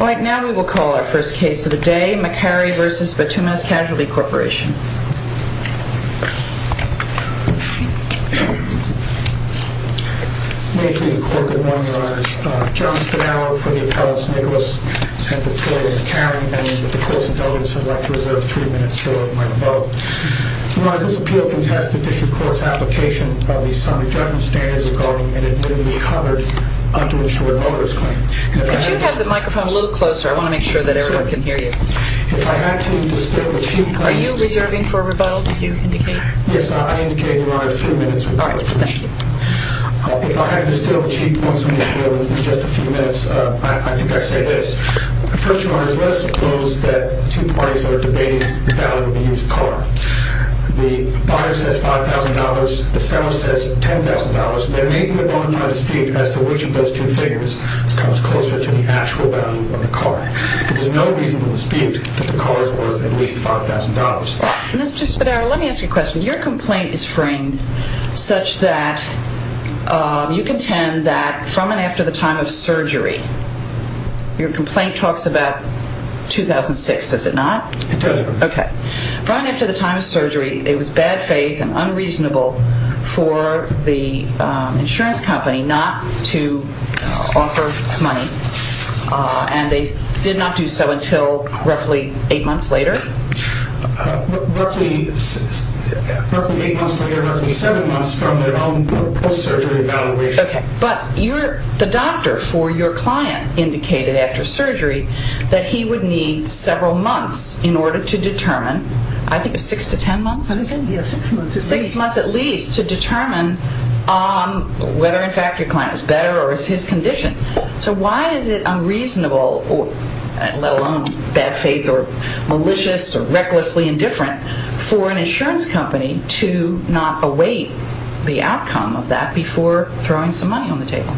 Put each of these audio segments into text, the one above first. Right now we will call our first case of the day, Maccari v. Bituminous Casualty Corp. May it please the court, good morning, your honors. John Spadaro for the appellants, Nicholas and Victoria Maccari, and with the court's indulgence I'd like to reserve three minutes for my rebuttal. Your honors, this appeal contests the district court's application of the summary judgment standards regarding inadmissible coverage to ensure a motorist claim. Could you have the microphone a little closer? I want to make sure that everyone can hear you. If I had to distill the chief points... Are you reserving for a rebuttal, did you indicate? Yes, I indicated, your honors, three minutes for my rebuttal. All right, thank you. If I had to distill the chief points of the appeal in just a few minutes, I think I'd say this. First, your honors, let us suppose that two parties are debating the value of a used car. The buyer says $5,000, the seller says $10,000, and they're making a bonafide dispute as to which of those two figures comes closer to the actual value of the car. There is no reason for the dispute that the car is worth at least $5,000. Mr. Spadaro, let me ask you a question. Your complaint is framed such that you contend that from and after the time of surgery, your complaint talks about 2006, does it not? It does. Okay. From and after the time of surgery, it was bad faith and unreasonable for the insurance company not to offer money, and they did not do so until roughly eight months later? Roughly eight months later, roughly seven months from their own post-surgery evaluation. Okay. But the doctor for your client indicated after surgery that he would need several months in order to determine, I think six to ten months? Six months at least. Six months at least to determine whether, in fact, your client is better or is his condition. So why is it unreasonable, let alone bad faith or malicious or recklessly indifferent, for an insurance company to not await the outcome of that before throwing some money on the table?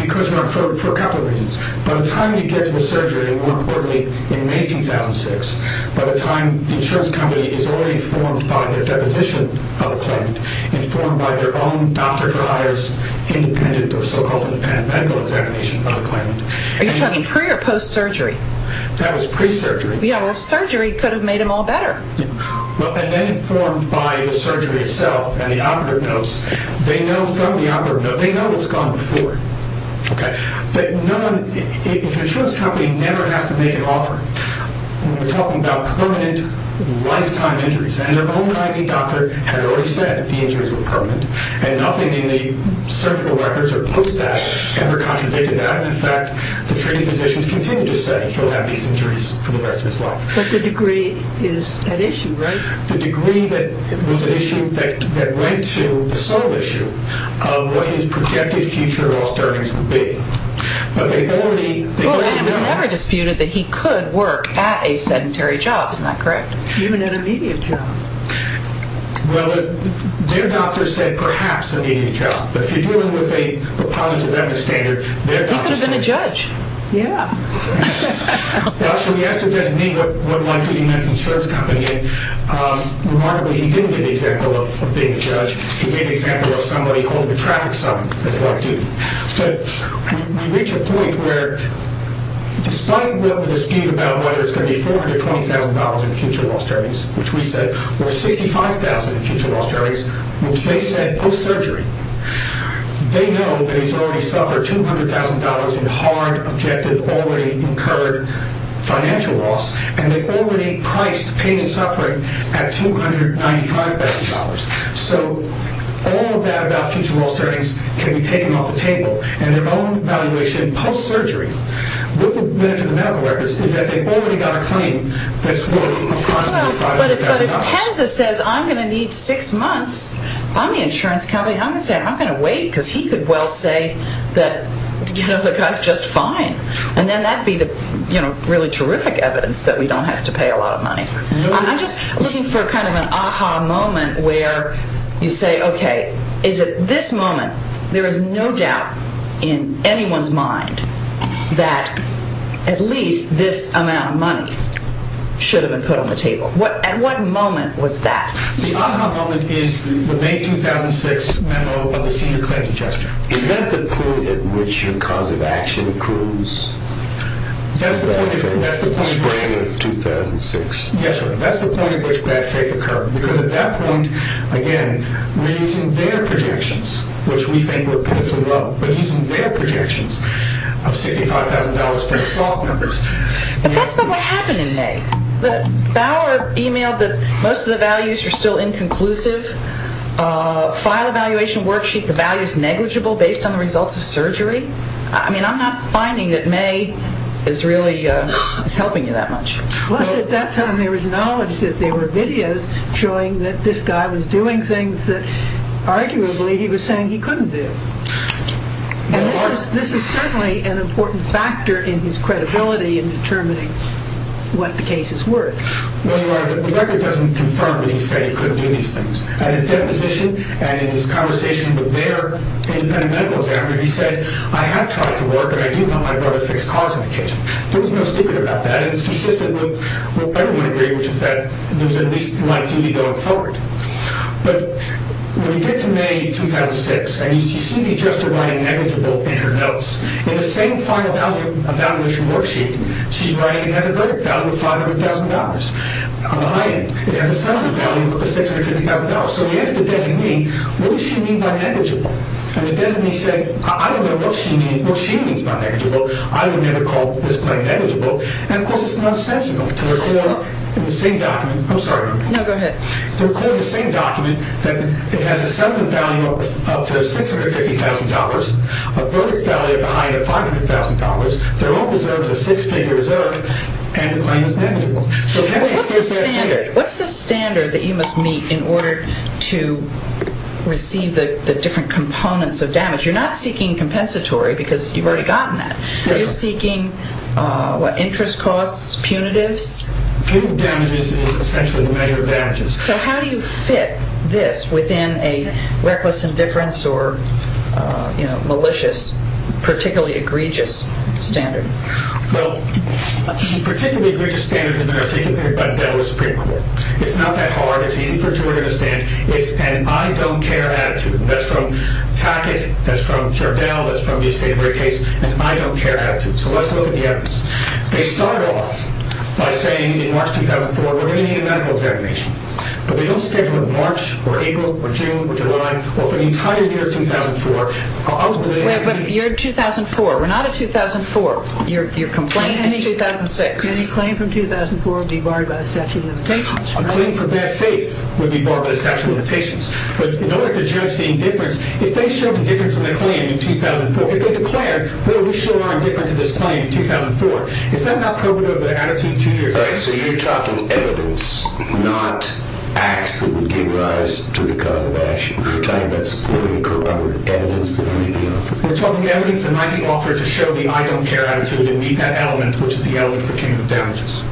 Because, for a couple of reasons. By the time he gets the surgery, and more importantly, in May 2006, by the time the insurance company is already informed by their deposition of the claimant, informed by their own doctor-for-hire's independent or so-called independent medical examination of the claimant. Are you talking pre- or post-surgery? That was pre-surgery. Yeah, well, surgery could have made him all better. Well, and then informed by the surgery itself and the operative notes. They know from the operative notes, they know what's gone before. Okay. But no one, if an insurance company never has to make an offer, we're talking about permanent, lifetime injuries. And their own IV doctor had already said the injuries were permanent. And nothing in the surgical records or post-data ever contradicted that. In fact, the treating physicians continue to say he'll have these injuries for the rest of his life. But the degree is at issue, right? The degree that was at issue that went to the sole issue of what his projected future loss earnings would be. But they already know. Well, and it was never disputed that he could work at a sedentary job. Isn't that correct? Even at a media job. Well, their doctor said perhaps a media job. But if you're dealing with a preponderance of evidence standard, their doctor said. He could have been a judge. Yeah. Well, so he asked a designee what it was like to be in this insurance company. And remarkably, he didn't give the example of being a judge. He gave the example of somebody holding a traffic sign. That's what I do. So we reach a point where despite the dispute about whether it's going to be $420,000 in future loss earnings, which we said, or $65,000 in future loss earnings, which they said post-surgery, they know that he's already suffered $200,000 in hard, objective, already incurred financial loss. And they've already priced pain and suffering at $295,000. So all of that about future loss earnings can be taken off the table. And their own evaluation post-surgery with the benefit of medical records is that they've already got a claim that's worth approximately $500,000. But if Pensa says, I'm going to need six months, I'm the insurance company. I'm going to say, I'm going to wait because he could well say that, you know, the guy's just fine. And then that would be the, you know, really terrific evidence that we don't have to pay a lot of money. I'm just looking for kind of an aha moment where you say, okay, is it this moment? There is no doubt in anyone's mind that at least this amount of money should have been put on the table. At what moment was that? The aha moment is the May 2006 memo of the senior claims adjuster. Is that the point at which your cause of action proves bad faith? That's the point. Spring of 2006. Yes, sir. That's the point at which bad faith occurred. Because at that point, again, we're using their projections, which we think were pitifully low. We're using their projections of $65,000 for the SOF members. But that's not what happened in May. Bauer emailed that most of the values are still inconclusive. File evaluation worksheet, the value is negligible based on the results of surgery. I mean, I'm not finding that May is really helping you that much. Plus at that time there was knowledge that there were videos showing that this guy was doing things that arguably he was saying he couldn't do. And this is certainly an important factor in his credibility in determining what the cases were. Well, Your Honor, the record doesn't confirm that he said he couldn't do these things. At his deposition and in his conversation with their independent medical examiner, he said, I have tried to work, and I do help my brother fix cars on occasion. There was no secret about that. It was consistent with what everyone agreed, which is that there was at least light duty going forward. But when you get to May 2006, and you see Cindy Jester writing negligible in her notes, in the same file evaluation worksheet, she's writing it has a verdict value of $500,000 on the high end. It has a summary value of $650,000. So you ask the designee, what does she mean by negligible? And the designee said, I don't know what she means by negligible. I would never call this my negligible. And of course, it's nonsensical to record in the same document. I'm sorry. No, go ahead. To record in the same document that it has a summary value of up to $650,000, a verdict value at the high end of $500,000, their own reserve is a six-figure reserve, and the claim is negligible. What's the standard that you must meet in order to receive the different components of damage? You're not seeking compensatory because you've already gotten that. You're seeking, what, interest costs, punitives? Punitive damages is essentially the measure of damages. So how do you fit this within a reckless indifference or malicious, particularly egregious, standard? Well, particularly egregious standards have been articulated by the Federal Supreme Court. It's not that hard. It's easy for a juror to understand. It's an I don't care attitude. And that's from Tackett. That's from Jardel. That's from the state of the case. It's an I don't care attitude. So let's look at the evidence. They start off by saying in March 2004, we're going to need a medical examination. But they don't schedule it in March or April or June or July or for the entire year of 2004. Wait, but you're in 2004. We're not in 2004. Your complaint is 2006. Can any claim from 2004 be barred by the statute of limitations? A claim for bad faith would be barred by the statute of limitations. But in order to judge the indifference, if they showed indifference in the claim in 2004, if they declared, well, we show our indifference in this claim in 2004, is that not prohibitive of the attitude two years later? So you're talking evidence, not acts that would give rise to the cause of action. You're talking about supporting corroborative evidence that might be offered. We're talking evidence that might be offered to show the I don't care attitude and meet that element, which is the element for chemical damages.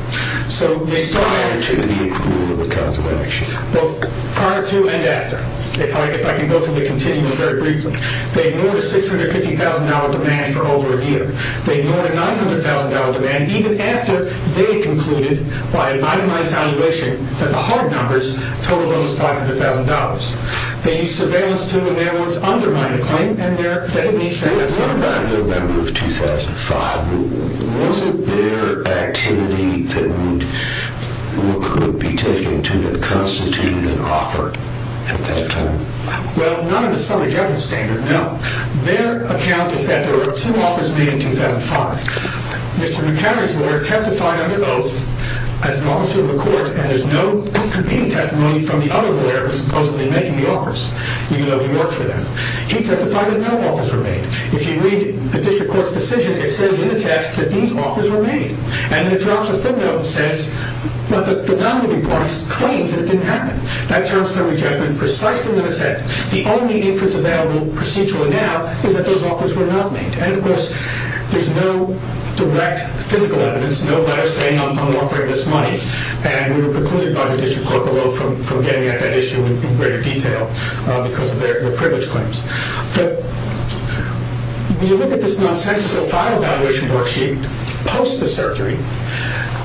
Prior to the approval of the cause of action. Both prior to and after. If I can go through the continuum very briefly. They ignored a $650,000 demand for over a year. They ignored a $900,000 demand, even after they concluded by an itemized valuation that the hard numbers totaled over $500,000. They used surveillance to, in their words, undermine the claim. And there, that means that as well. You were not a member of 2005. Was it their activity that would be taken to constitute an offer at that time? Well, not in the summary judgment standard, no. Their account is that there were two offers made in 2005. Mr. McHenry's lawyer testified under oath as an officer of the court and there's no convening testimony from the other lawyer who was supposedly making the offers, even though he worked for them. He testified that no offers were made. If you read the district court's decision, it says in the text that these offers were made. And then it drops a footnote and says, but the downloading parties claimed that it didn't happen. That terms summary judgment precisely when it said the only inference available procedurally now is that those offers were not made. And, of course, there's no direct physical evidence, no letter saying I'm offering this money. And we were precluded by the district court, although from getting at that issue in greater detail because of their privilege claims. But when you look at this nonsensical file valuation worksheet post the surgery,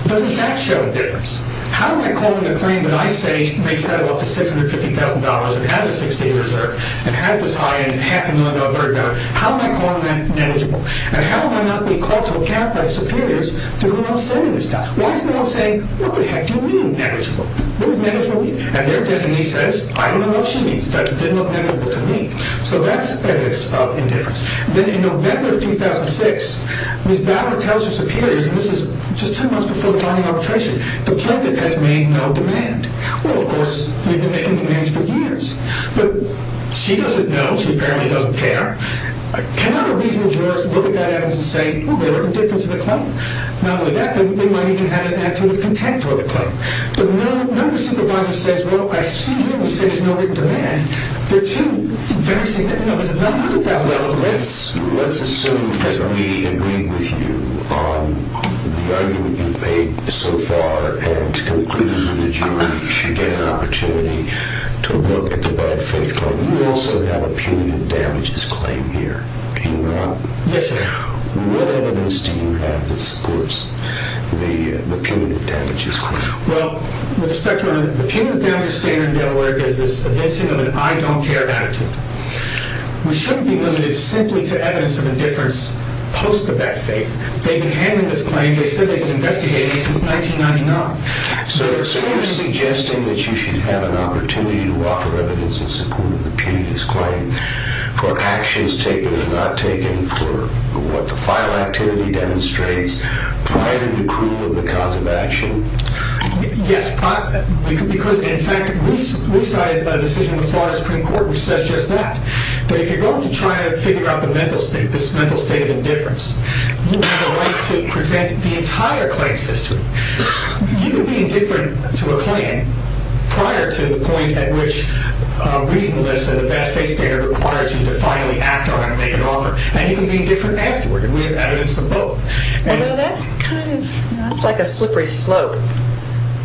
doesn't that show a difference? How am I calling a claim that I say may settle up to $650,000 and has a 60-day reserve and has this high end and half a million dollar burden? How am I calling that negligible? And how am I not being called to account by superiors to go on selling this stuff? Why is no one saying, what the heck do you mean negligible? What does negligible mean? And their designee says, I don't know what she means. That didn't look negligible to me. So that's evidence of indifference. Then in November of 2006, Ms. Bauer tells her superiors, and this is just two months before filing arbitration, the plaintiff has made no demand. Well, of course, we've been making demands for years. But she doesn't know. She apparently doesn't care. Can I have a reasonable jurist look at that evidence and say, well, there were indifference to the claim? Not only that, they might even have an attitude of contempt toward the claim. But no supervisor says, well, I've seen you and you say there's no written demand. They're too very significant. No, there's a $900,000 risk. Let's assume that we agree with you on the argument you've made so far and concluded that you should get an opportunity to look at the bad faith claim. You also have a punitive damages claim here. Yes, sir. What evidence do you have that supports the punitive damages claim? Well, the punitive damages standard in Delaware is this evincing of an I don't care attitude. We shouldn't be limited simply to evidence of indifference post the bad faith. They've been handling this claim. They said they've been investigating it since 1999. So you're suggesting that you should have an opportunity to offer evidence in support of the punitive claims for actions taken or not taken, for what the final activity demonstrates prior to the approval of the cause of action? Yes. Because, in fact, we cited a decision in the Florida Supreme Court which says just that. But if you're going to try and figure out this mental state of indifference, you have a right to present the entire claim system. You can be indifferent to a claim prior to the point at which reasonableness and the bad faith standard requires you to finally act on it and make an offer. And you can be indifferent afterward. We have evidence of both. Although that's kind of like a slippery slope.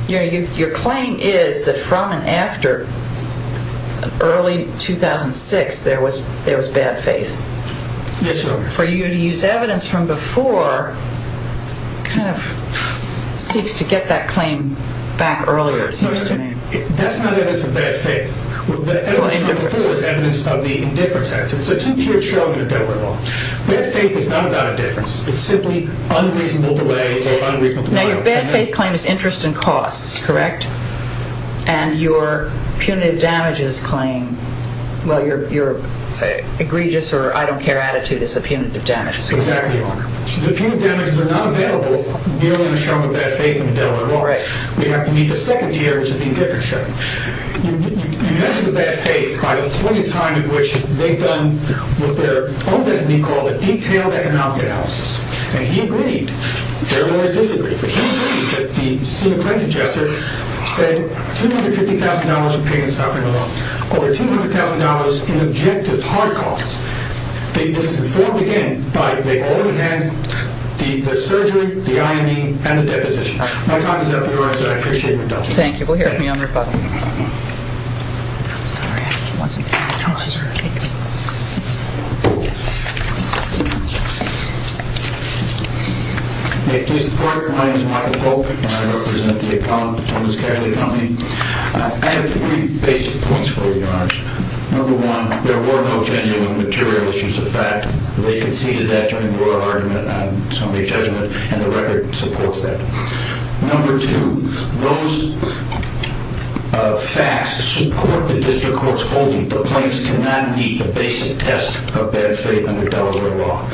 Your claim is that from and after early 2006 there was bad faith. Yes, ma'am. For you to use evidence from before kind of seeks to get that claim back earlier, it seems to me. That's not evidence of bad faith. The evidence from before is evidence of the indifference act. It's a two-tiered show in a deadwood law. Bad faith is not about indifference. It's simply unreasonable delay or unreasonable delay. Now, your bad faith claim is interest in costs, correct? And your punitive damages claim, well, your egregious or I don't care attitude is the punitive damages claim. Exactly. The punitive damages are not available merely in a show of bad faith in a deadwood law. We have to meet the second tier, which is the indifference show. You mentioned the bad faith by the point in time at which they've done what their own designee called a detailed economic analysis. And he agreed. Their lawyers disagreed. But he agreed that the scene claim congester said $250,000 in pain and suffering alone, over $200,000 in objective heart costs. This is informed again by they've already had the surgery, the IME, and the deposition. My time is up, Your Honor, so I appreciate your indulgence. Thank you. We'll hear from you on rebuttal. I'm sorry. I wasn't paying attention. It's all right. May I please report? My name is Michael Polk, and I represent the accountants of this casualty company. I have three basic points for you, Your Honor. Number one, there were no genuine material issues of fact. They conceded that during your argument on somebody's judgment, and the record supports that. Number two, those facts support the district court's holding. The plaintiffs cannot meet the basic test of bad faith under Delaware law.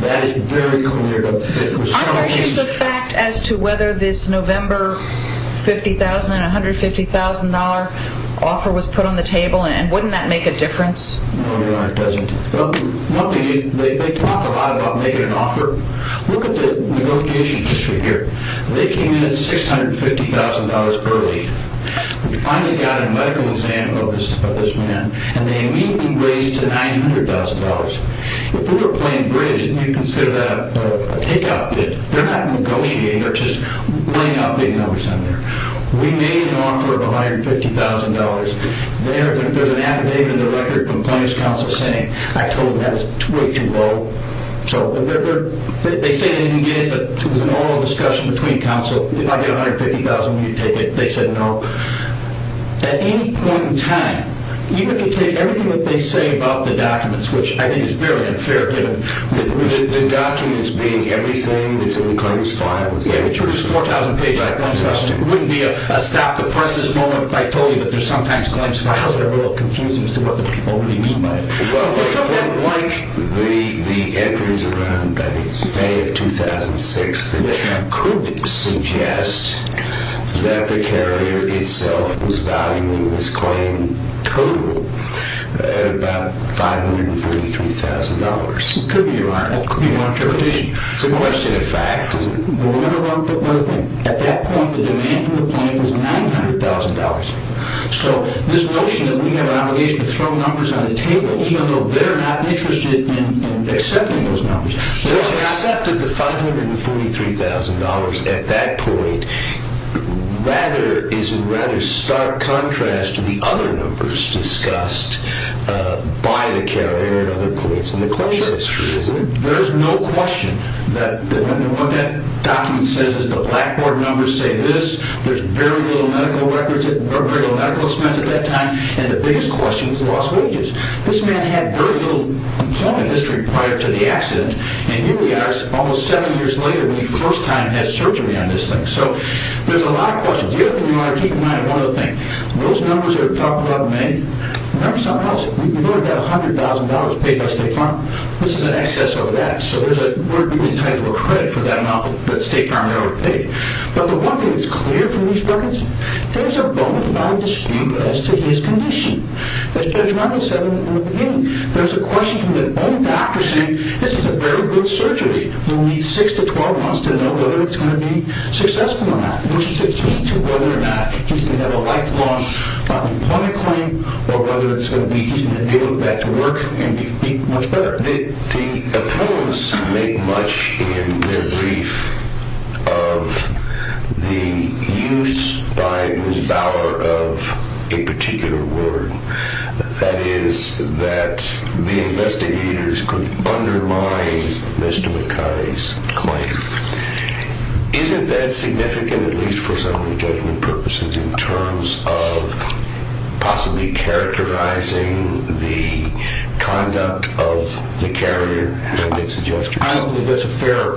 That is very clear. Are there issues of fact as to whether this November $50,000 and $150,000 offer was put on the table, and wouldn't that make a difference? No, Your Honor, it doesn't. They talk a lot about making an offer. Look at the negotiation history here. They came in at $650,000 early. We finally got a medical exam of this man, and they immediately raised to $900,000. If we were playing bridge and you consider that a take-out bid, they're not negotiating, they're just laying out big numbers in there. We made an offer of $150,000. There's an affidavit in the record from Plaintiff's Counsel saying, I told them that was way too low. They say they didn't get it, but there was an oral discussion between counsel. If I get $150,000, will you take it? They said no. At any point in time, even if you take everything that they say about the documents, which I think is very unfair, given the documents being everything that's in the claims file, if they introduce 4,000 pages of claims files, it wouldn't be a stop-the-prices moment if I told you that there's sometimes claims files that are a little confusing as to what the people really mean by it. Well, like the entries around, I think, May of 2006, that could suggest that the carrier itself was valuing this claim total at about $543,000. It could be wrong. It could be wrong. It's a question of fact. At that point, the demand for the claim was $900,000. So this notion that we have an obligation to throw numbers on the table, even though they're not interested in accepting those numbers. Well, accepting the $543,000 at that point is in rather stark contrast to the other numbers discussed by the carrier and other points in the claims history. There's no question that what that document says is the Blackboard numbers say this. There's very little medical expense at that time, and the biggest question was lost wages. This man had very little employment history prior to the accident, and here we are almost seven years later when he first time had surgery on this thing. So there's a lot of questions. The other thing you want to keep in mind, one other thing, those numbers that we're talking about in May, remember somehow, we've only got $100,000 paid by State Farm. This is in excess of that. So we're entitled to a credit for that amount that State Farm never paid. But the one thing that's clear from these records, there's a bonafide dispute as to his condition. As Judge Rundle said in the beginning, there's a question from the bone doctor saying this is a very good surgery. We'll need six to 12 months to know whether it's going to be successful or not, which is to speak to whether or not he's going to have a lifelong unemployment claim or whether it's going to be he's going to be able to go back to work and be much better. The appellants make much in their brief of the use by Ms. Bauer of a particular word, that is, that the investigators could undermine Mr. McKay's claim. Isn't that significant, at least for some of the judgment purposes, in terms of possibly characterizing the conduct of the carrier and its adjustments? I don't believe that's a fair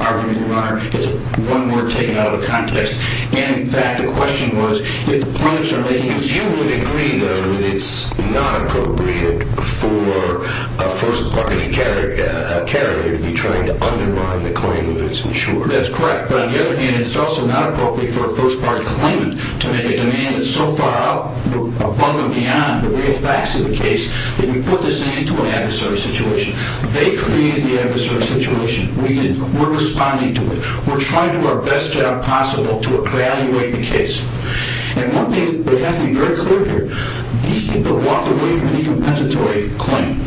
argument, Your Honor. It's one word taken out of the context. And, in fact, the question was if the plaintiffs are making a You would agree, though, that it's not appropriate for a first-party carrier to be trying to undermine the claim when it's insured. That's correct. But, on the other hand, it's also not appropriate for a first-party claimant to make a demand that's so far above and beyond the real facts of the case that you put this into an adversary situation. They created the adversary situation. We're responding to it. We're trying to do our best job possible to evaluate the case. And one thing, we have to be very clear here, these people walked away from an incompensatory claim.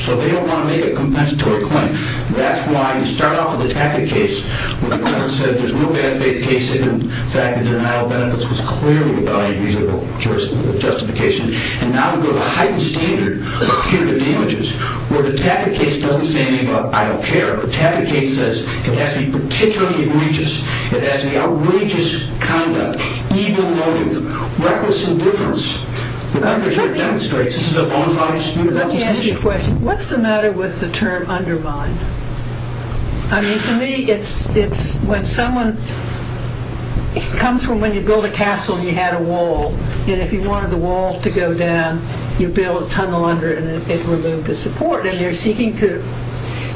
So they don't want to make a compensatory claim. That's why we start off with the Taffet case where the court said there's no bad faith case if, in fact, the denial of benefits was clearly without any reasonable justification. And now we go to a heightened standard of punitive damages where the Taffet case doesn't say anything about I don't care. The Taffet case says it has to be particularly egregious. It has to be outrageous conduct, evil motive, reckless indifference. Let me ask you a question. What's the matter with the term undermine? I mean, to me, it's when someone comes from when you build a castle and you had a wall. And if you wanted the wall to go down, you build a tunnel under it and it removed the support. And you're seeking to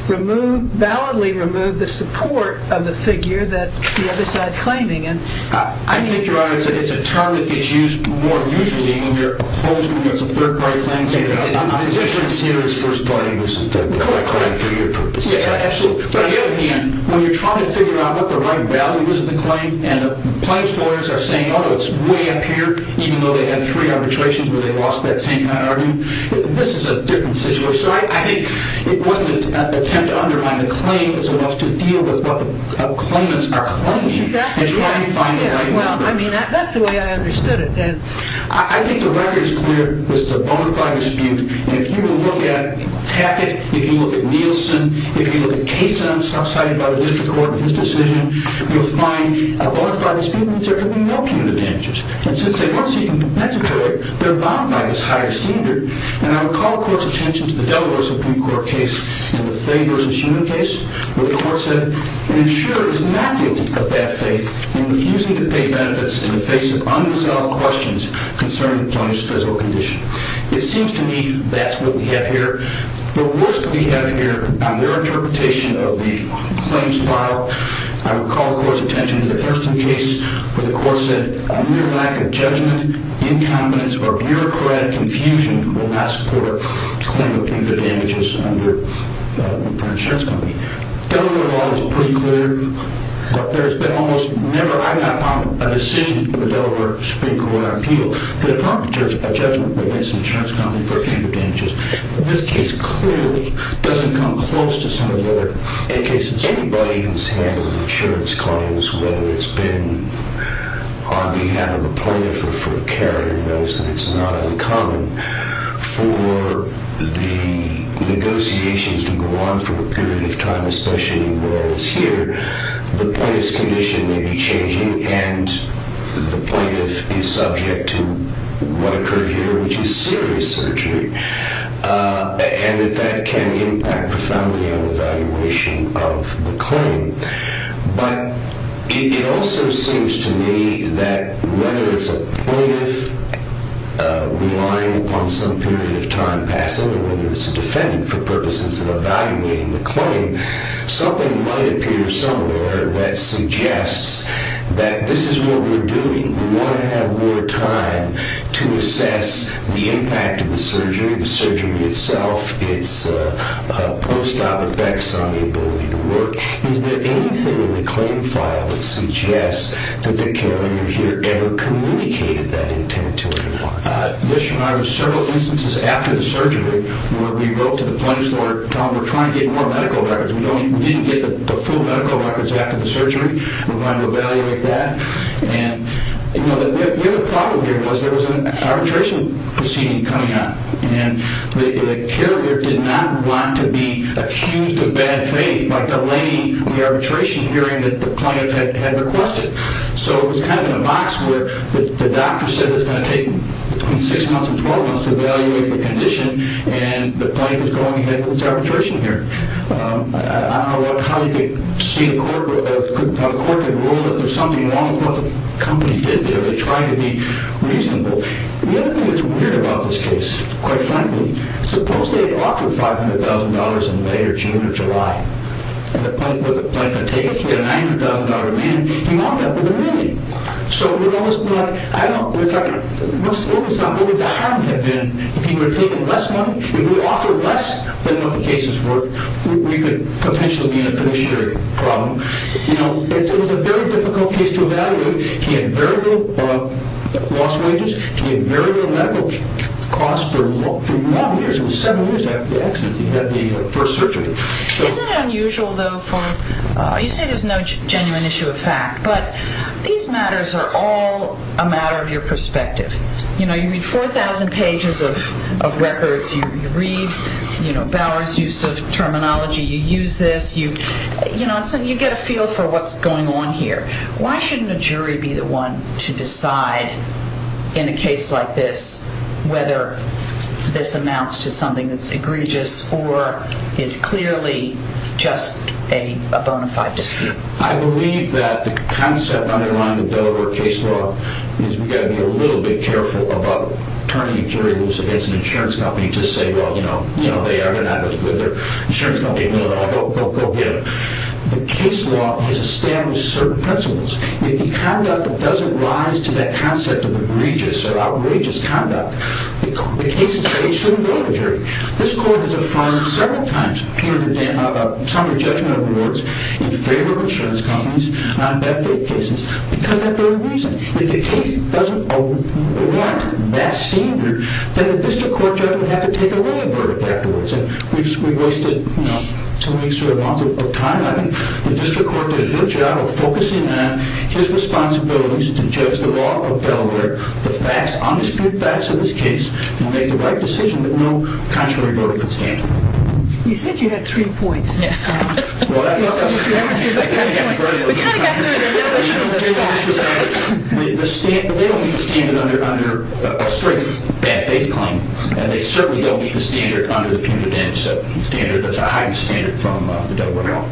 remove, validly remove the support of the figure that the other side's claiming. I think, Your Honor, it's a term that gets used more usually when you're opposing what's a third-party claim. I'm just sincere as first party. This is the correct claim for your purposes. Yeah, absolutely. On the other hand, when you're trying to figure out what the right value is of the claim and the plaintiffs lawyers are saying, oh, it's way up here, even though they had three arbitrations where they lost that same kind of argument, this is a different situation. So I think it wasn't an attempt to undermine the claim. It was enough to deal with what the claimants are claiming. Well, I mean, that's the way I understood it. I think the record is clear. It's a bona fide dispute. And if you look at Tackett, if you look at Nielsen, if you look at Case and I'm so excited about his decision, you'll find a bona fide dispute means there can be no punitive damages. And since they weren't seeking medical care, they're bound by this higher standard. And I would call the Court's attention to the Delaware Supreme Court case and the Fay v. Sheehan case where the Court said, an insurer is not guilty of bad faith in refusing to pay benefits in the face of unresolved questions concerning the plaintiff's physical condition. It seems to me that's what we have here. The worst we have here on their interpretation of the claims file, I would call the Court's attention to the Thurston case where the Court said, a mere lack of judgment, incompetence, or bureaucratic infusion will not support a claim of punitive damages for an insurance company. Delaware law is pretty clear, but there's been almost never, I have not found a decision from the Delaware Supreme Court on appeal that if a judgment is made against an insurance company for punitive damages, this case clearly doesn't come close to some of the other cases. Anybody who's handled insurance claims, whether it's been on behalf of a plaintiff or for a carrier, knows that it's not uncommon for the negotiations to go on for a period of time, especially whereas here, the plaintiff's condition may be changing and the plaintiff is subject to what occurred here, which is serious surgery. And that that can impact profoundly on evaluation of the claim. But it also seems to me that whether it's a plaintiff relying upon some period of time passing or whether it's a defendant for purposes of evaluating the claim, something might appear somewhere that suggests that this is what we're doing. We want to have more time to assess the impact of the surgery, the surgery itself, its post-op effects on the ability to work. Is there anything in the claim file that suggests that the carrier here ever communicated that intent to anyone? Yes, Your Honor. There were several instances after the surgery where we wrote to the plaintiff's lawyer telling them we're trying to get more medical records. We didn't get the full medical records after the surgery. We wanted to evaluate that. And the other problem here was there was an arbitration proceeding coming up, and the carrier did not want to be accused of bad faith by delaying the arbitration hearing that the plaintiff had requested. So it was kind of in a box where the doctor said it was going to take between 6 months and 12 months to evaluate the condition, and the plaintiff was going ahead with this arbitration hearing. I don't know how the court could rule that there's something wrong with what the company did there. They tried to be reasonable. The other thing that's weird about this case, quite frankly, suppose they had offered $500,000 in May or June or July, and the plaintiff was going to take it. He had a $900,000 amendment. He walked out with a million. So it would almost be like, I don't know, what would the harm have been if he would have taken less money, if he would have offered less than what the case is worth, we could potentially be able to finish the problem. It was a very difficult case to evaluate. He had very low loss wages. He had very low medical costs for long years. It was seven years after the accident that he had the first surgery. Is it unusual, though, for, you say there's no genuine issue of fact, but these matters are all a matter of your perspective. You read 4,000 pages of records. You read Bauer's use of terminology. You use this. You get a feel for what's going on here. Why shouldn't a jury be the one to decide in a case like this whether this amounts to something that's egregious or is clearly just a bona fide dispute? I believe that the concept underlying the Delaware case law is we've got to be a little bit careful about turning a jury loose against an insurance company to say, well, you know, they are not really good. Their insurance company knows that. Go get them. The case law has established certain principles. If the conduct doesn't rise to that concept of egregious or outrageous conduct, the cases say it shouldn't go to the jury. This court has affirmed several times some of the judgmental rewards in favor of insurance companies on death rate cases because of that very reason. If the case doesn't warrant that standard, then the district court judge would have to take away a verdict afterwards. We've wasted, you know, two weeks or a month of time. I think the district court did a good job of focusing on his responsibilities to judge the law of Delaware, the facts, undisputed facts of this case, and make the right decision that no contrary verdict would stand. You said you had three points. They don't meet the standard under a strict bad faith claim, and they certainly don't meet the standard under the punitive damage standard. That's a high standard from the Delaware law.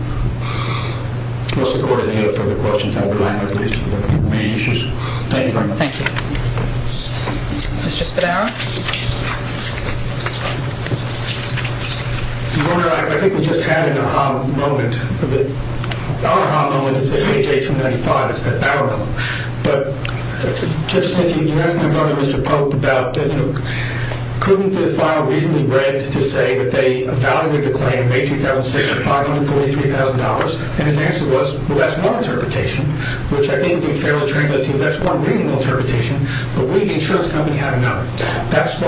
Mr. Gordon, any other further questions? I'll remind my colleagues of their main issues. Thank you very much. Thank you. Mr. Spadaro? Your Honor, I think we just had an opportunity to discuss the AHA moment. The AHA moment is the AJ-295. It's the AHA moment. But, Judge Smith, you asked my brother, Mr. Pope, about, you know, couldn't the file reasonably read to say that they evaluated the claim in May 2006 at $543,000? And his answer was, well, that's one interpretation, which I think would be fairly translating. That's one reasonable interpretation. But we, the insurance company, have another. That's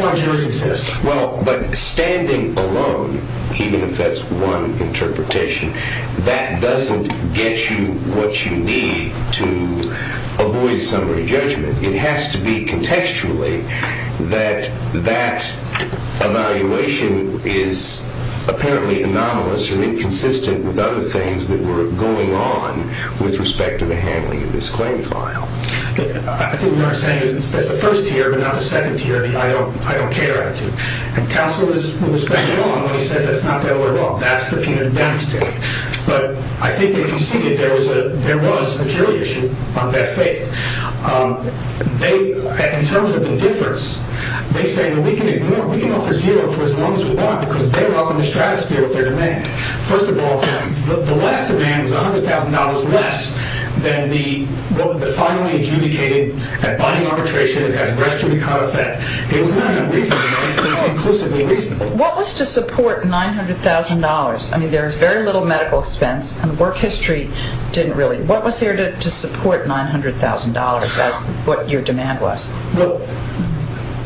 why jurors exist. Well, but standing alone, even if that's one interpretation, that doesn't get you what you need to avoid summary judgment. It has to be contextually that that evaluation is apparently anomalous or inconsistent with other things that were going on with respect to the handling of this claim file. I think what you're saying is that's the first tier but not the second tier of the I don't care attitude. And counsel is spending on when he says that's not their law. That's the penitent down state. But I think you can see that there was a jury issue on that faith. In terms of the difference, they say, well, we can ignore it. We can offer zero for as long as we want because they welcome the stratosphere with their demand. First of all, the last demand was $100,000 less than the finally adjudicated at body arbitration. It has respiratory effect. It was not unreasonable. It was inclusively reasonable. What was to support $900,000? I mean, there is very little medical expense and work history didn't really. What was there to support $900,000? That's what your demand was. Well,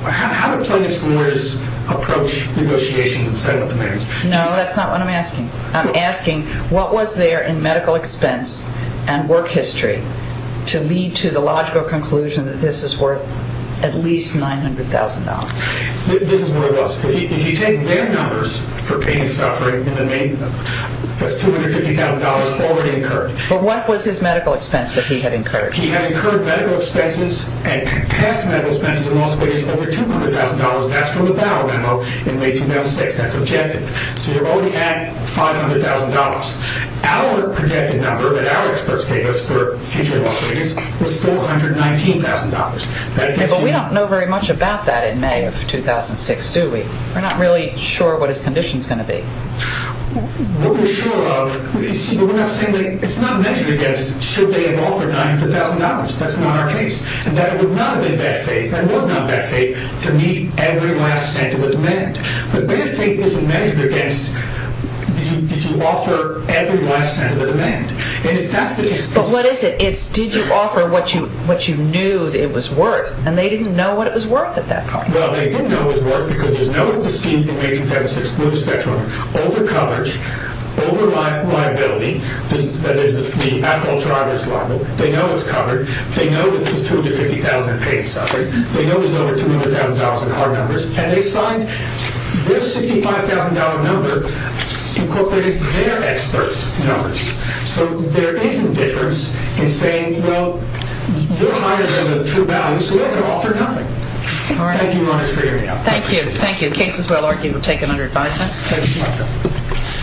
how do plaintiffs lawyers approach negotiations and settlement demands? No, that's not what I'm asking. I'm asking what was there in medical expense and work history to lead to the logical conclusion that this is worth at least $900,000? This is what it was. If you take their numbers for pain and suffering, that's $250,000 already incurred. But what was his medical expense that he had incurred? He had incurred medical expenses and past medical expenses in Las Vegas over $200,000. That's from the Bauer memo in May 2006. That's objective. So you're already at $500,000. Our projected number that our experts gave us for future Las Vegas was $419,000. But we don't know very much about that in May of 2006, do we? We're not really sure what his condition is going to be. What we're sure of, but we're not saying that it's not measured against should they have offered $900,000. That's not our case. That would not have been bad faith. That was not bad faith to meet every last cent of a demand. But bad faith isn't measured against did you offer every last cent of a demand. But what is it? It's did you offer what you knew it was worth? And they didn't know what it was worth at that point. Well, they didn't know it was worth because there's no dispute in May 2006 blue spectrum, overcoverage, over liability. That is the actual driver's liability. They know it's covered. They know that there's $250,000 in pain and suffering. They know there's over $200,000 in car numbers. And they signed this $65,000 number incorporating their experts' numbers. So there is a difference in saying, well, you're higher than the true value, so they're going to offer nothing. Thank you very much for your time. Thank you. Thank you. Case is well argued. We'll take it under advisement. Thank you.